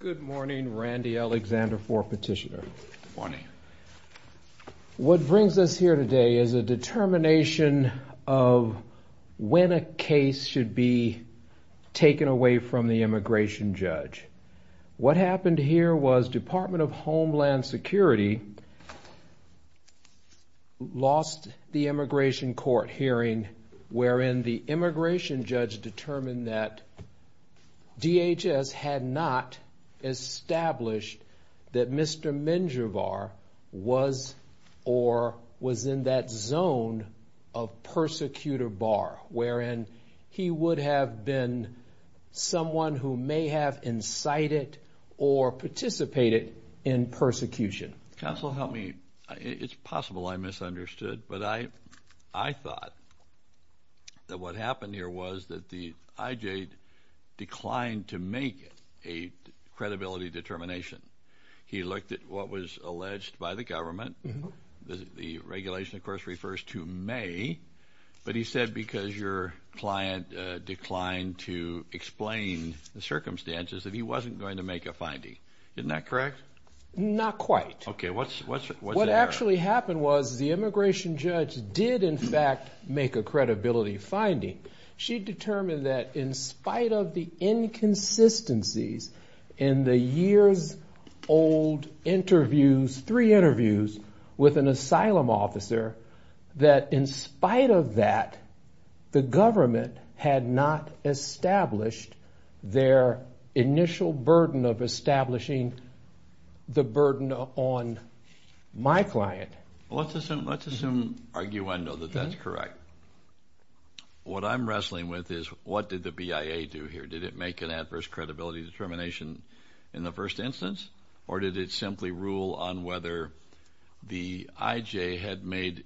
Good morning. What brings us here today is a determination of when a case should be taken away from the immigration judge. What happened here was the Department of Homeland Security lost the immigration court hearing wherein the immigration judge determined that a case should be taken away from the immigration judge. DHS had not established that Mr. Menjivar was or was in that zone of persecutor Barr wherein he would have been someone who may have incited or participated in persecution. Counsel, help me. It's possible I misunderstood, but I thought that what happened here was that the IJ declined to make a credibility determination. He looked at what was alleged by the government. The regulation of course refers to May, but he said because your client declined to explain the circumstances that he wasn't going to make a finding. Isn't that correct? Not quite. Okay, what's there? Let's assume arguendo that that's correct. What I'm wrestling with is what did the BIA do here? Did it make an adverse credibility determination in the first instance, or did it simply rule on whether the IJ had made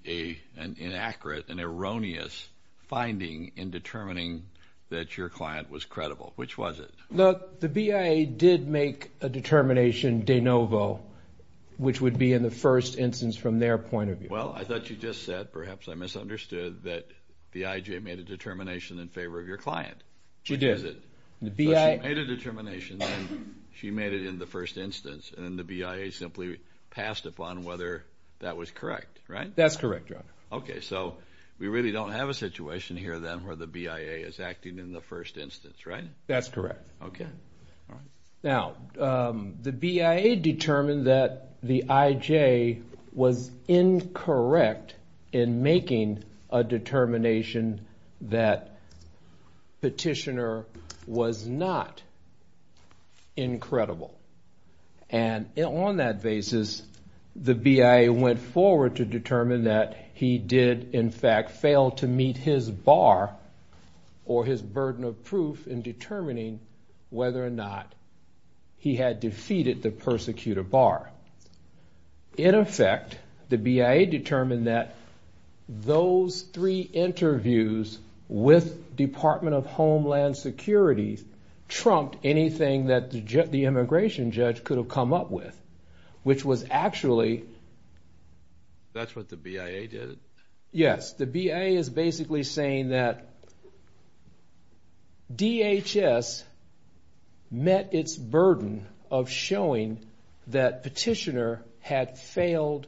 an inaccurate and erroneous finding in determining that your client was credible? Which was it? Look, the BIA did make a determination de novo, which would be in the first instance from their point of view. Well, I thought you just said, perhaps I misunderstood, that the IJ made a determination in favor of your client. She did. So she made a determination and she made it in the first instance, and the BIA simply passed upon whether that was correct, right? That's correct, Your Honor. Okay, so we really don't have a situation here then where the BIA is acting in the first instance, right? That's correct. Okay. Now, the BIA determined that the IJ was incorrect in making a determination that Petitioner was not incredible. And on that basis, the BIA went forward to determine that he did, in fact, fail to meet his bar or his burden of proof in determining whether or not he had defeated the persecutor bar. In effect, the BIA determined that those three interviews with Department of Homeland Security trumped anything that the immigration judge could have come up with, which was actually... That's what the BIA did? Yes, the BIA is basically saying that DHS met its burden of showing that Petitioner had failed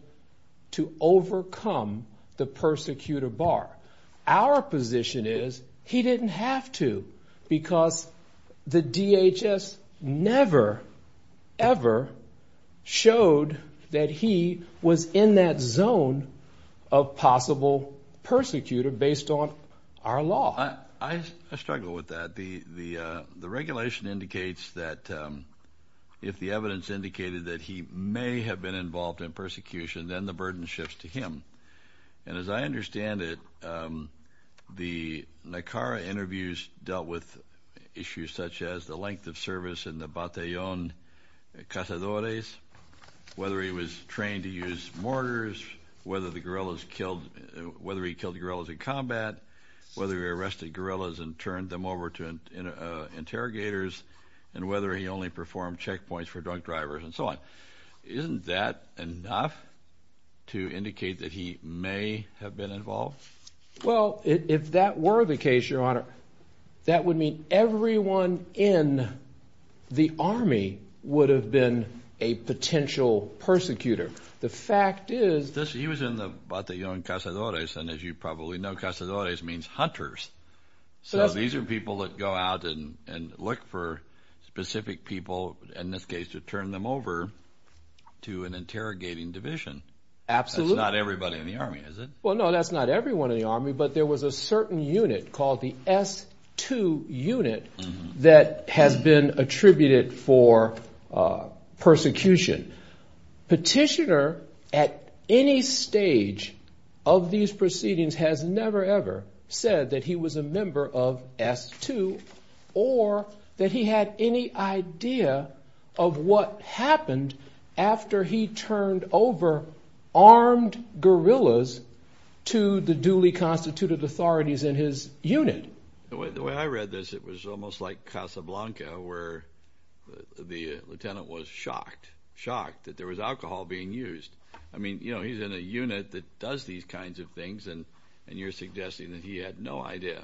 to overcome the persecutor bar. Our position is he didn't have to because the DHS never, ever showed that he was in that zone of possible persecutor based on our law. I struggle with that. The regulation indicates that if the evidence indicated that he may have been involved in persecution, then the burden shifts to him. And as I understand it, the Nicara interviews dealt with issues such as the length of service in the Batallon Casadores, whether he was trained to use mortars, whether the guerrillas killed... Whether he killed guerrillas in combat, whether he arrested guerrillas and turned them over to interrogators, and whether he only performed checkpoints for drunk drivers and so on. Isn't that enough to indicate that he may have been involved? Well, if that were the case, Your Honor, that would mean everyone in the Army would have been a potential persecutor. The fact is... He was in the Batallon Casadores, and as you probably know, Casadores means hunters. So these are people that go out and look for specific people, in this case to turn them over to an interrogating division. Absolutely. That's not everybody in the Army, is it? Well, no, that's not everyone in the Army, but there was a certain unit called the S-2 unit that has been attributed for persecution. Petitioner, at any stage of these proceedings, has never ever said that he was a member of S-2, or that he had any idea of what happened after he turned over armed guerrillas to the duly constituted authorities in his unit. The way I read this, it was almost like Casablanca, where the lieutenant was shocked, shocked that there was alcohol being used. I mean, you know, he's in a unit that does these kinds of things, and you're suggesting that he had no idea.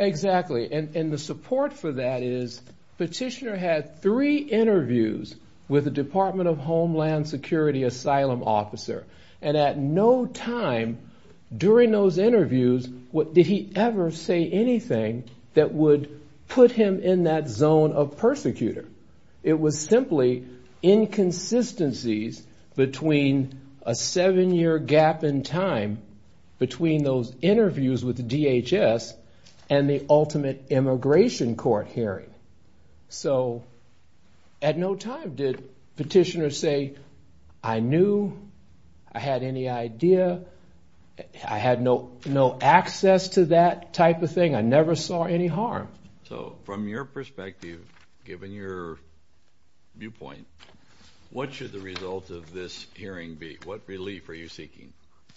Exactly, and the support for that is Petitioner had three interviews with the Department of Homeland Security asylum officer, and at no time during those interviews did he ever say anything that would put him in that zone of persecutor. It was simply inconsistencies between a seven-year gap in time between those interviews with DHS and the ultimate immigration court hearing. So at no time did Petitioner say, I knew, I had any idea, I had no access to that type of thing, I never saw any harm. So from your perspective, given your viewpoint, what should the result of this hearing be? What relief are you seeking?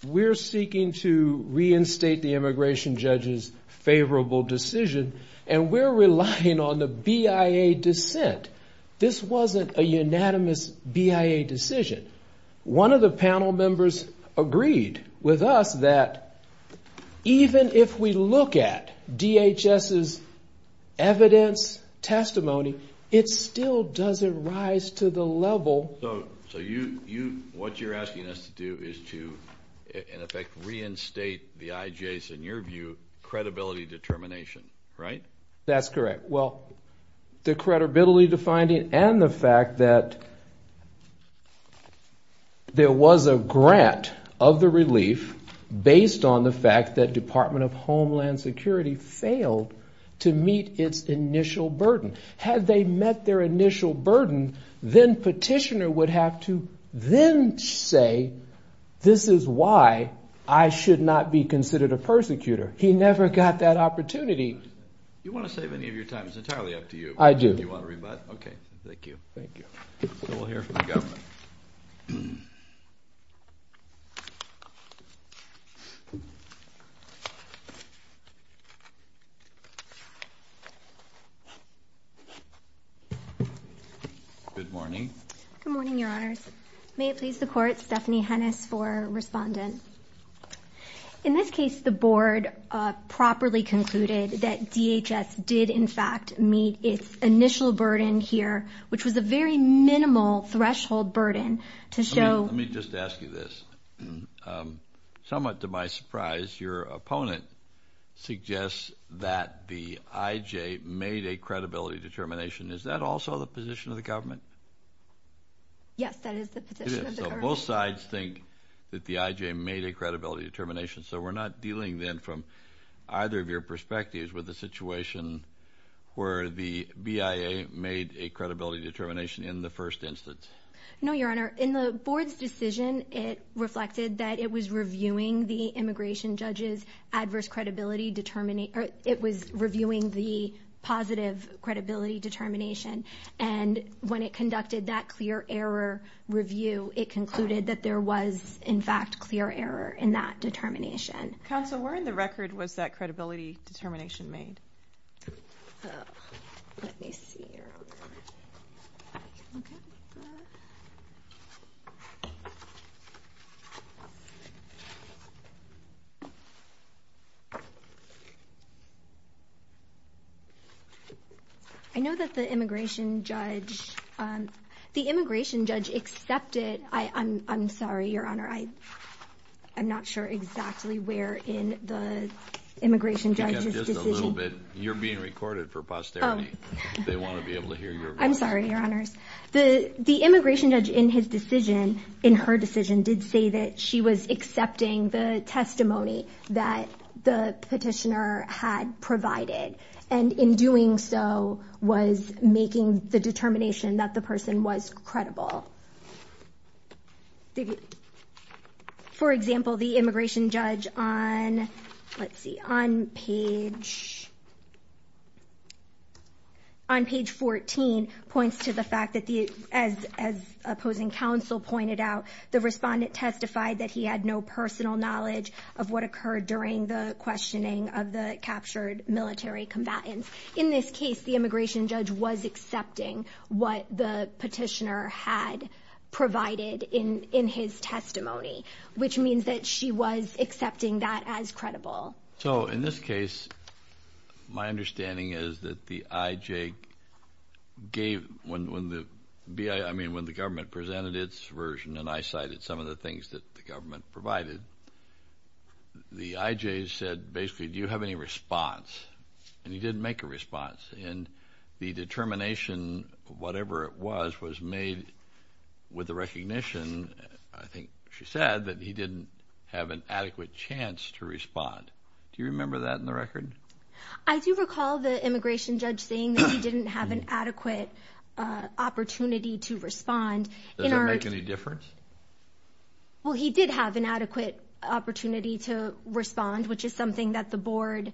We're seeking to reinstate the immigration judge's favorable decision, and we're relying on the BIA dissent. This wasn't a unanimous BIA decision. One of the panel members agreed with us that even if we look at DHS's evidence, testimony, it still doesn't rise to the level. So what you're asking us to do is to, in effect, reinstate the IJ's, in your view, credibility determination, right? That's correct. Well, the credibility defining and the fact that there was a grant of the relief based on the fact that Department of Homeland Security failed to meet its initial burden. Had they met their initial burden, then Petitioner would have to then say, this is why I should not be considered a persecutor. He never got that opportunity. You want to save any of your time, it's entirely up to you. I do. Do you want to rebut? Okay, thank you. Thank you. So we'll hear from the government. Good morning. Good morning, Your Honors. May it please the Court, Stephanie Hennis for Respondent. In this case, the Board properly concluded that DHS did, in fact, meet its initial burden here, which was a very minimal threshold burden. Let me just ask you this. Somewhat to my surprise, your opponent suggests that the IJ made a credibility determination. Is that also the position of the government? Yes, that is the position of the government. It is. So both sides think that the IJ made a credibility determination. So we're not dealing then from either of your perspectives with the situation where the BIA made a credibility determination in the first instance. No, Your Honor. In the Board's decision, it reflected that it was reviewing the immigration judge's adverse credibility determination, or it was reviewing the positive credibility determination. And when it conducted that clear error review, it concluded that there was, in fact, clear error in that determination. Counsel, where in the record was that credibility determination made? Let me see here. I know that the immigration judge, the immigration judge accepted. I'm sorry, Your Honor. I'm not sure exactly where in the immigration judge's decision. You're being recorded for posterity. They want to be able to hear your voice. I'm sorry, Your Honors. The immigration judge in his decision, in her decision, did say that she was accepting the testimony that the petitioner had provided. And in doing so, was making the determination that the person was credible. For example, the immigration judge on, let's see, on page 14 points to the fact that as opposing counsel pointed out, the respondent testified that he had no personal knowledge of what occurred during the questioning of the captured military combatants. In this case, the immigration judge was accepting what the petitioner had provided in his testimony, which means that she was accepting that as credible. So in this case, my understanding is that the IJ gave, I mean, when the government presented its version, and I cited some of the things that the government provided, the IJ said basically, do you have any response? And he didn't make a response. And the determination, whatever it was, was made with the recognition, I think she said, that he didn't have an adequate chance to respond. Do you remember that in the record? I do recall the immigration judge saying that he didn't have an adequate opportunity to respond. Does it make any difference? Well, he did have an adequate opportunity to respond, which is something that the board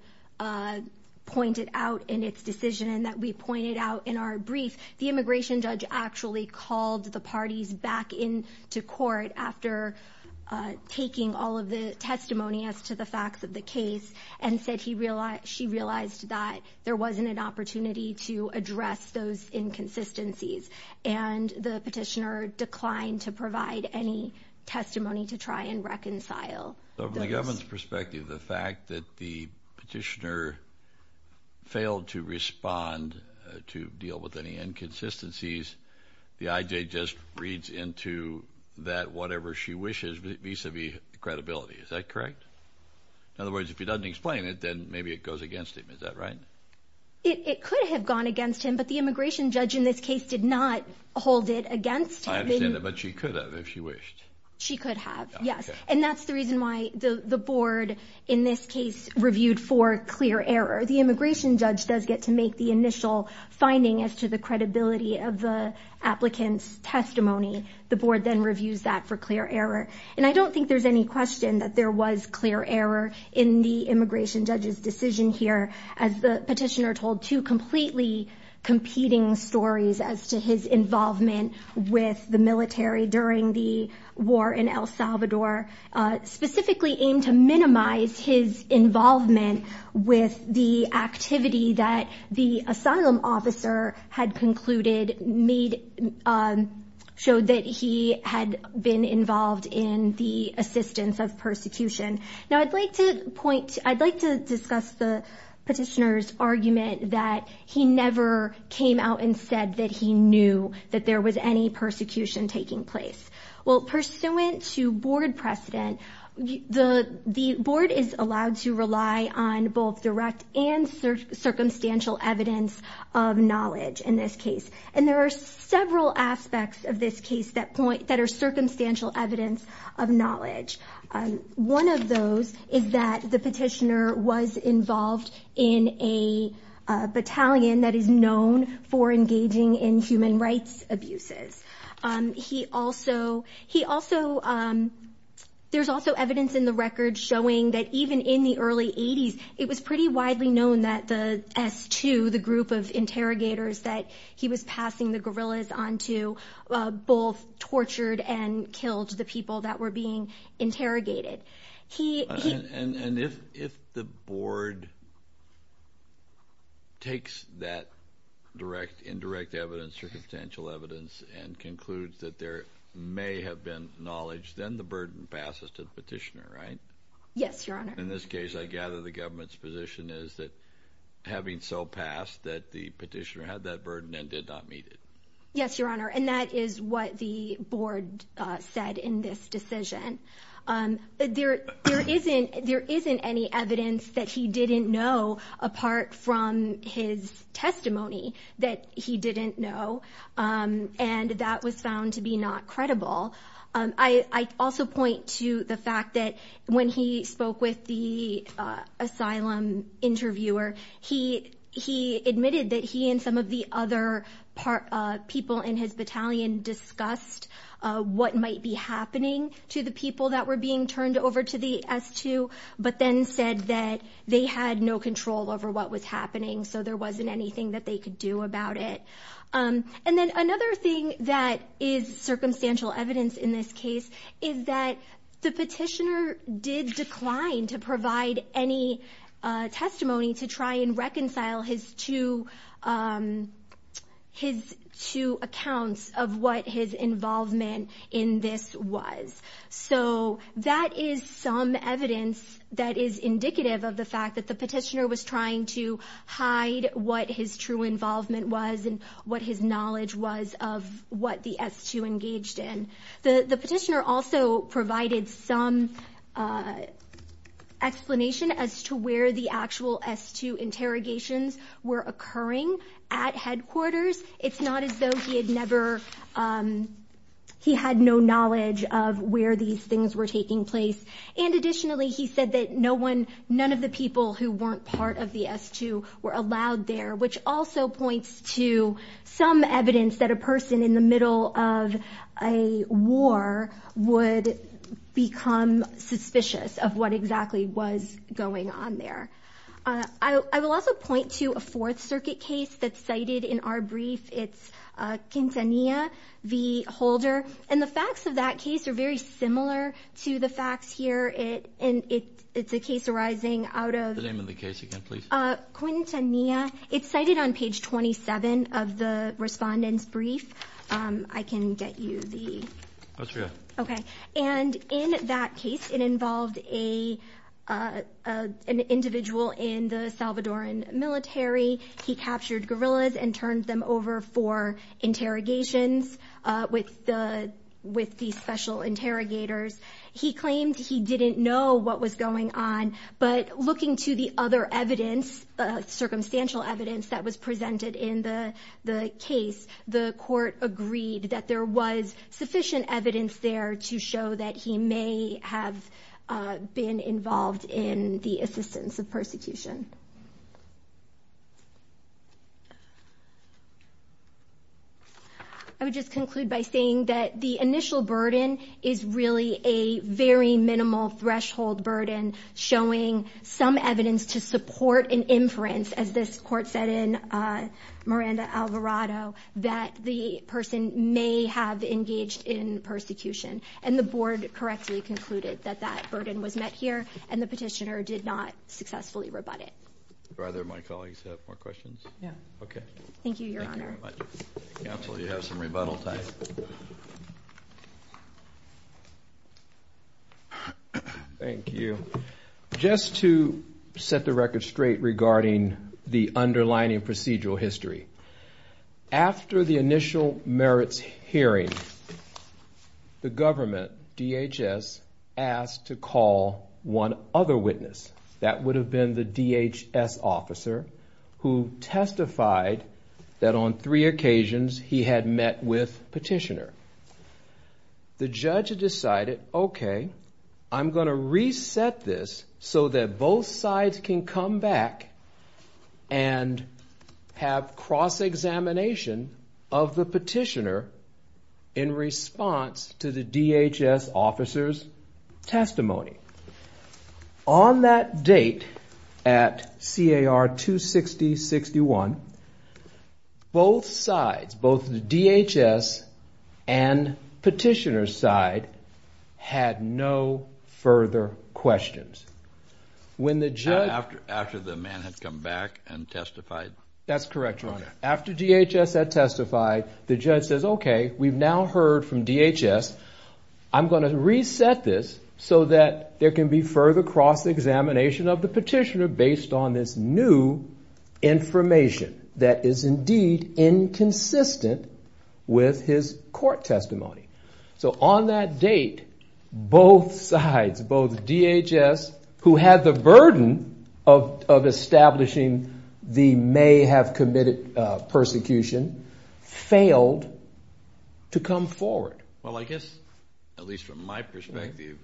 pointed out in its decision and that we pointed out in our brief. The immigration judge actually called the parties back into court after taking all of the testimony as to the facts of the case and said she realized that there wasn't an opportunity to address those inconsistencies. And the petitioner declined to provide any testimony to try and reconcile those. So from the government's perspective, the fact that the petitioner failed to respond to deal with any inconsistencies, the IJ just reads into that whatever she wishes vis-a-vis credibility. Is that correct? In other words, if he doesn't explain it, then maybe it goes against him. Is that right? It could have gone against him, but the immigration judge in this case did not hold it against him. I understand that, but she could have if she wished. She could have, yes. And that's the reason why the board in this case reviewed for clear error. The immigration judge does get to make the initial finding as to the credibility of the applicant's testimony. The board then reviews that for clear error. And I don't think there's any question that there was clear error in the immigration judge's decision here. As the petitioner told two completely competing stories as to his involvement with the military during the war in El Salvador, specifically aimed to minimize his involvement with the activity that the asylum officer had concluded, showed that he had been involved in the assistance of persecution. Now, I'd like to discuss the petitioner's argument that he never came out and said that he knew that there was any persecution taking place. Well, pursuant to board precedent, the board is allowed to rely on both direct and circumstantial evidence of knowledge in this case. And there are several aspects of this case that are circumstantial evidence of knowledge. One of those is that the petitioner was involved in a battalion that is known for engaging in human rights abuses. There's also evidence in the record showing that even in the early 80s, it was pretty widely known that the S2, the group of interrogators that he was passing the guerrillas on to, both tortured and killed the people that were being interrogated. And if the board takes that direct, indirect evidence, circumstantial evidence and concludes that there may have been knowledge, then the burden passes to the petitioner, right? Yes, Your Honor. In this case, I gather the government's position is that having so passed that the petitioner had that burden and did not meet it. Yes, Your Honor. And that is what the board said in this decision. There isn't any evidence that he didn't know apart from his testimony that he didn't know. And that was found to be not credible. I also point to the fact that when he spoke with the asylum interviewer, he admitted that he and some of the other people in his battalion discussed what might be happening to the people that were being turned over to the S2, but then said that they had no control over what was happening. So there wasn't anything that they could do about it. And then another thing that is circumstantial evidence in this case is that the petitioner did decline to provide any testimony to try and reconcile his two accounts of what his involvement in this was. So that is some evidence that is indicative of the fact that the petitioner was trying to hide what his true involvement was and what his knowledge was of what the S2 engaged in. The petitioner also provided some explanation as to where the actual S2 interrogations were occurring at headquarters. It's not as though he had no knowledge of where these things were taking place. And additionally, he said that none of the people who weren't part of the S2 were allowed there, which also points to some evidence that a person in the middle of a war would become suspicious of what exactly was going on there. I will also point to a Fourth Circuit case that's cited in our brief. It's Quintanilla v. Holder. And the facts of that case are very similar to the facts here. And it's a case arising out of... The name of the case again, please. Quintanilla. It's cited on page 27 of the respondent's brief. I can get you the... That's right. Okay. And in that case, it involved an individual in the Salvadoran military. He captured guerrillas and turned them over for interrogations with these special interrogators. He claimed he didn't know what was going on. But looking to the other evidence, circumstantial evidence that was presented in the case, the court agreed that there was sufficient evidence there to show that he may have been involved in the assistance of persecution. I would just conclude by saying that the initial burden is really a very minimal threshold burden, showing some evidence to support an inference, as this court said in Miranda-Alvarado, that the person may have engaged in persecution. And the board correctly concluded that that burden was met here, and the petitioner did not successfully rebut it. Do either of my colleagues have more questions? Yeah. Okay. Thank you, Your Honor. Counsel, you have some rebuttal time. Thank you. Just to set the record straight regarding the underlining procedural history, after the initial merits hearing, the government, DHS, asked to call one other witness. That would have been the DHS officer, who testified that on three occasions he had met with petitioner. The judge decided, okay, I'm going to reset this so that both sides can come back and have cross-examination of the petitioner in response to the DHS officer's testimony. On that date, at CAR 260-61, both sides, both the DHS and petitioner's side, had no further questions. After the man had come back and testified? That's correct, Your Honor. After DHS had testified, the judge says, okay, we've now heard from DHS. I'm going to reset this so that there can be further cross-examination of the petitioner based on this new information that is indeed inconsistent with his court testimony. So on that date, both sides, both DHS, who had the burden of establishing the may have committed persecution, failed to come forward. Well, I guess, at least from my perspective,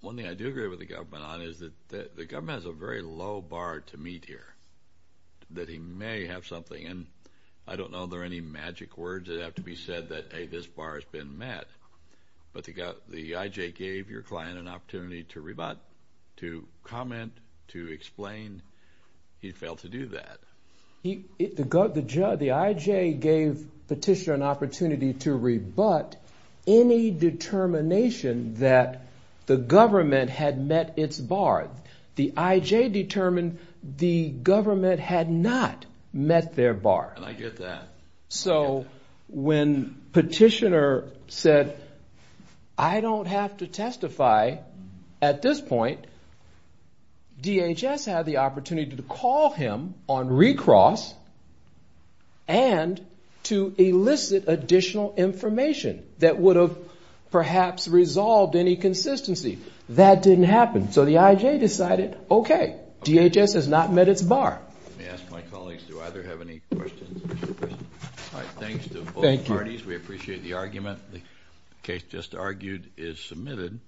one thing I do agree with the government on is that the government has a very low bar to meet here, that he may have something. And I don't know if there are any magic words that have to be said that, hey, this bar has been met. But the IJ gave your client an opportunity to comment, to explain. He failed to do that. The IJ gave petitioner an opportunity to rebut any determination that the government had met its bar. The IJ determined the government had not met their bar. And I get that. So when petitioner said, I don't have to testify at this point, DHS had the opportunity to call him on recross and to elicit additional information that would have perhaps resolved any consistency. That didn't happen. So the IJ decided, okay, DHS has not met its bar. Let me ask my colleagues, do either have any questions? All right, thanks to both parties. We appreciate the argument. The case just argued is submitted.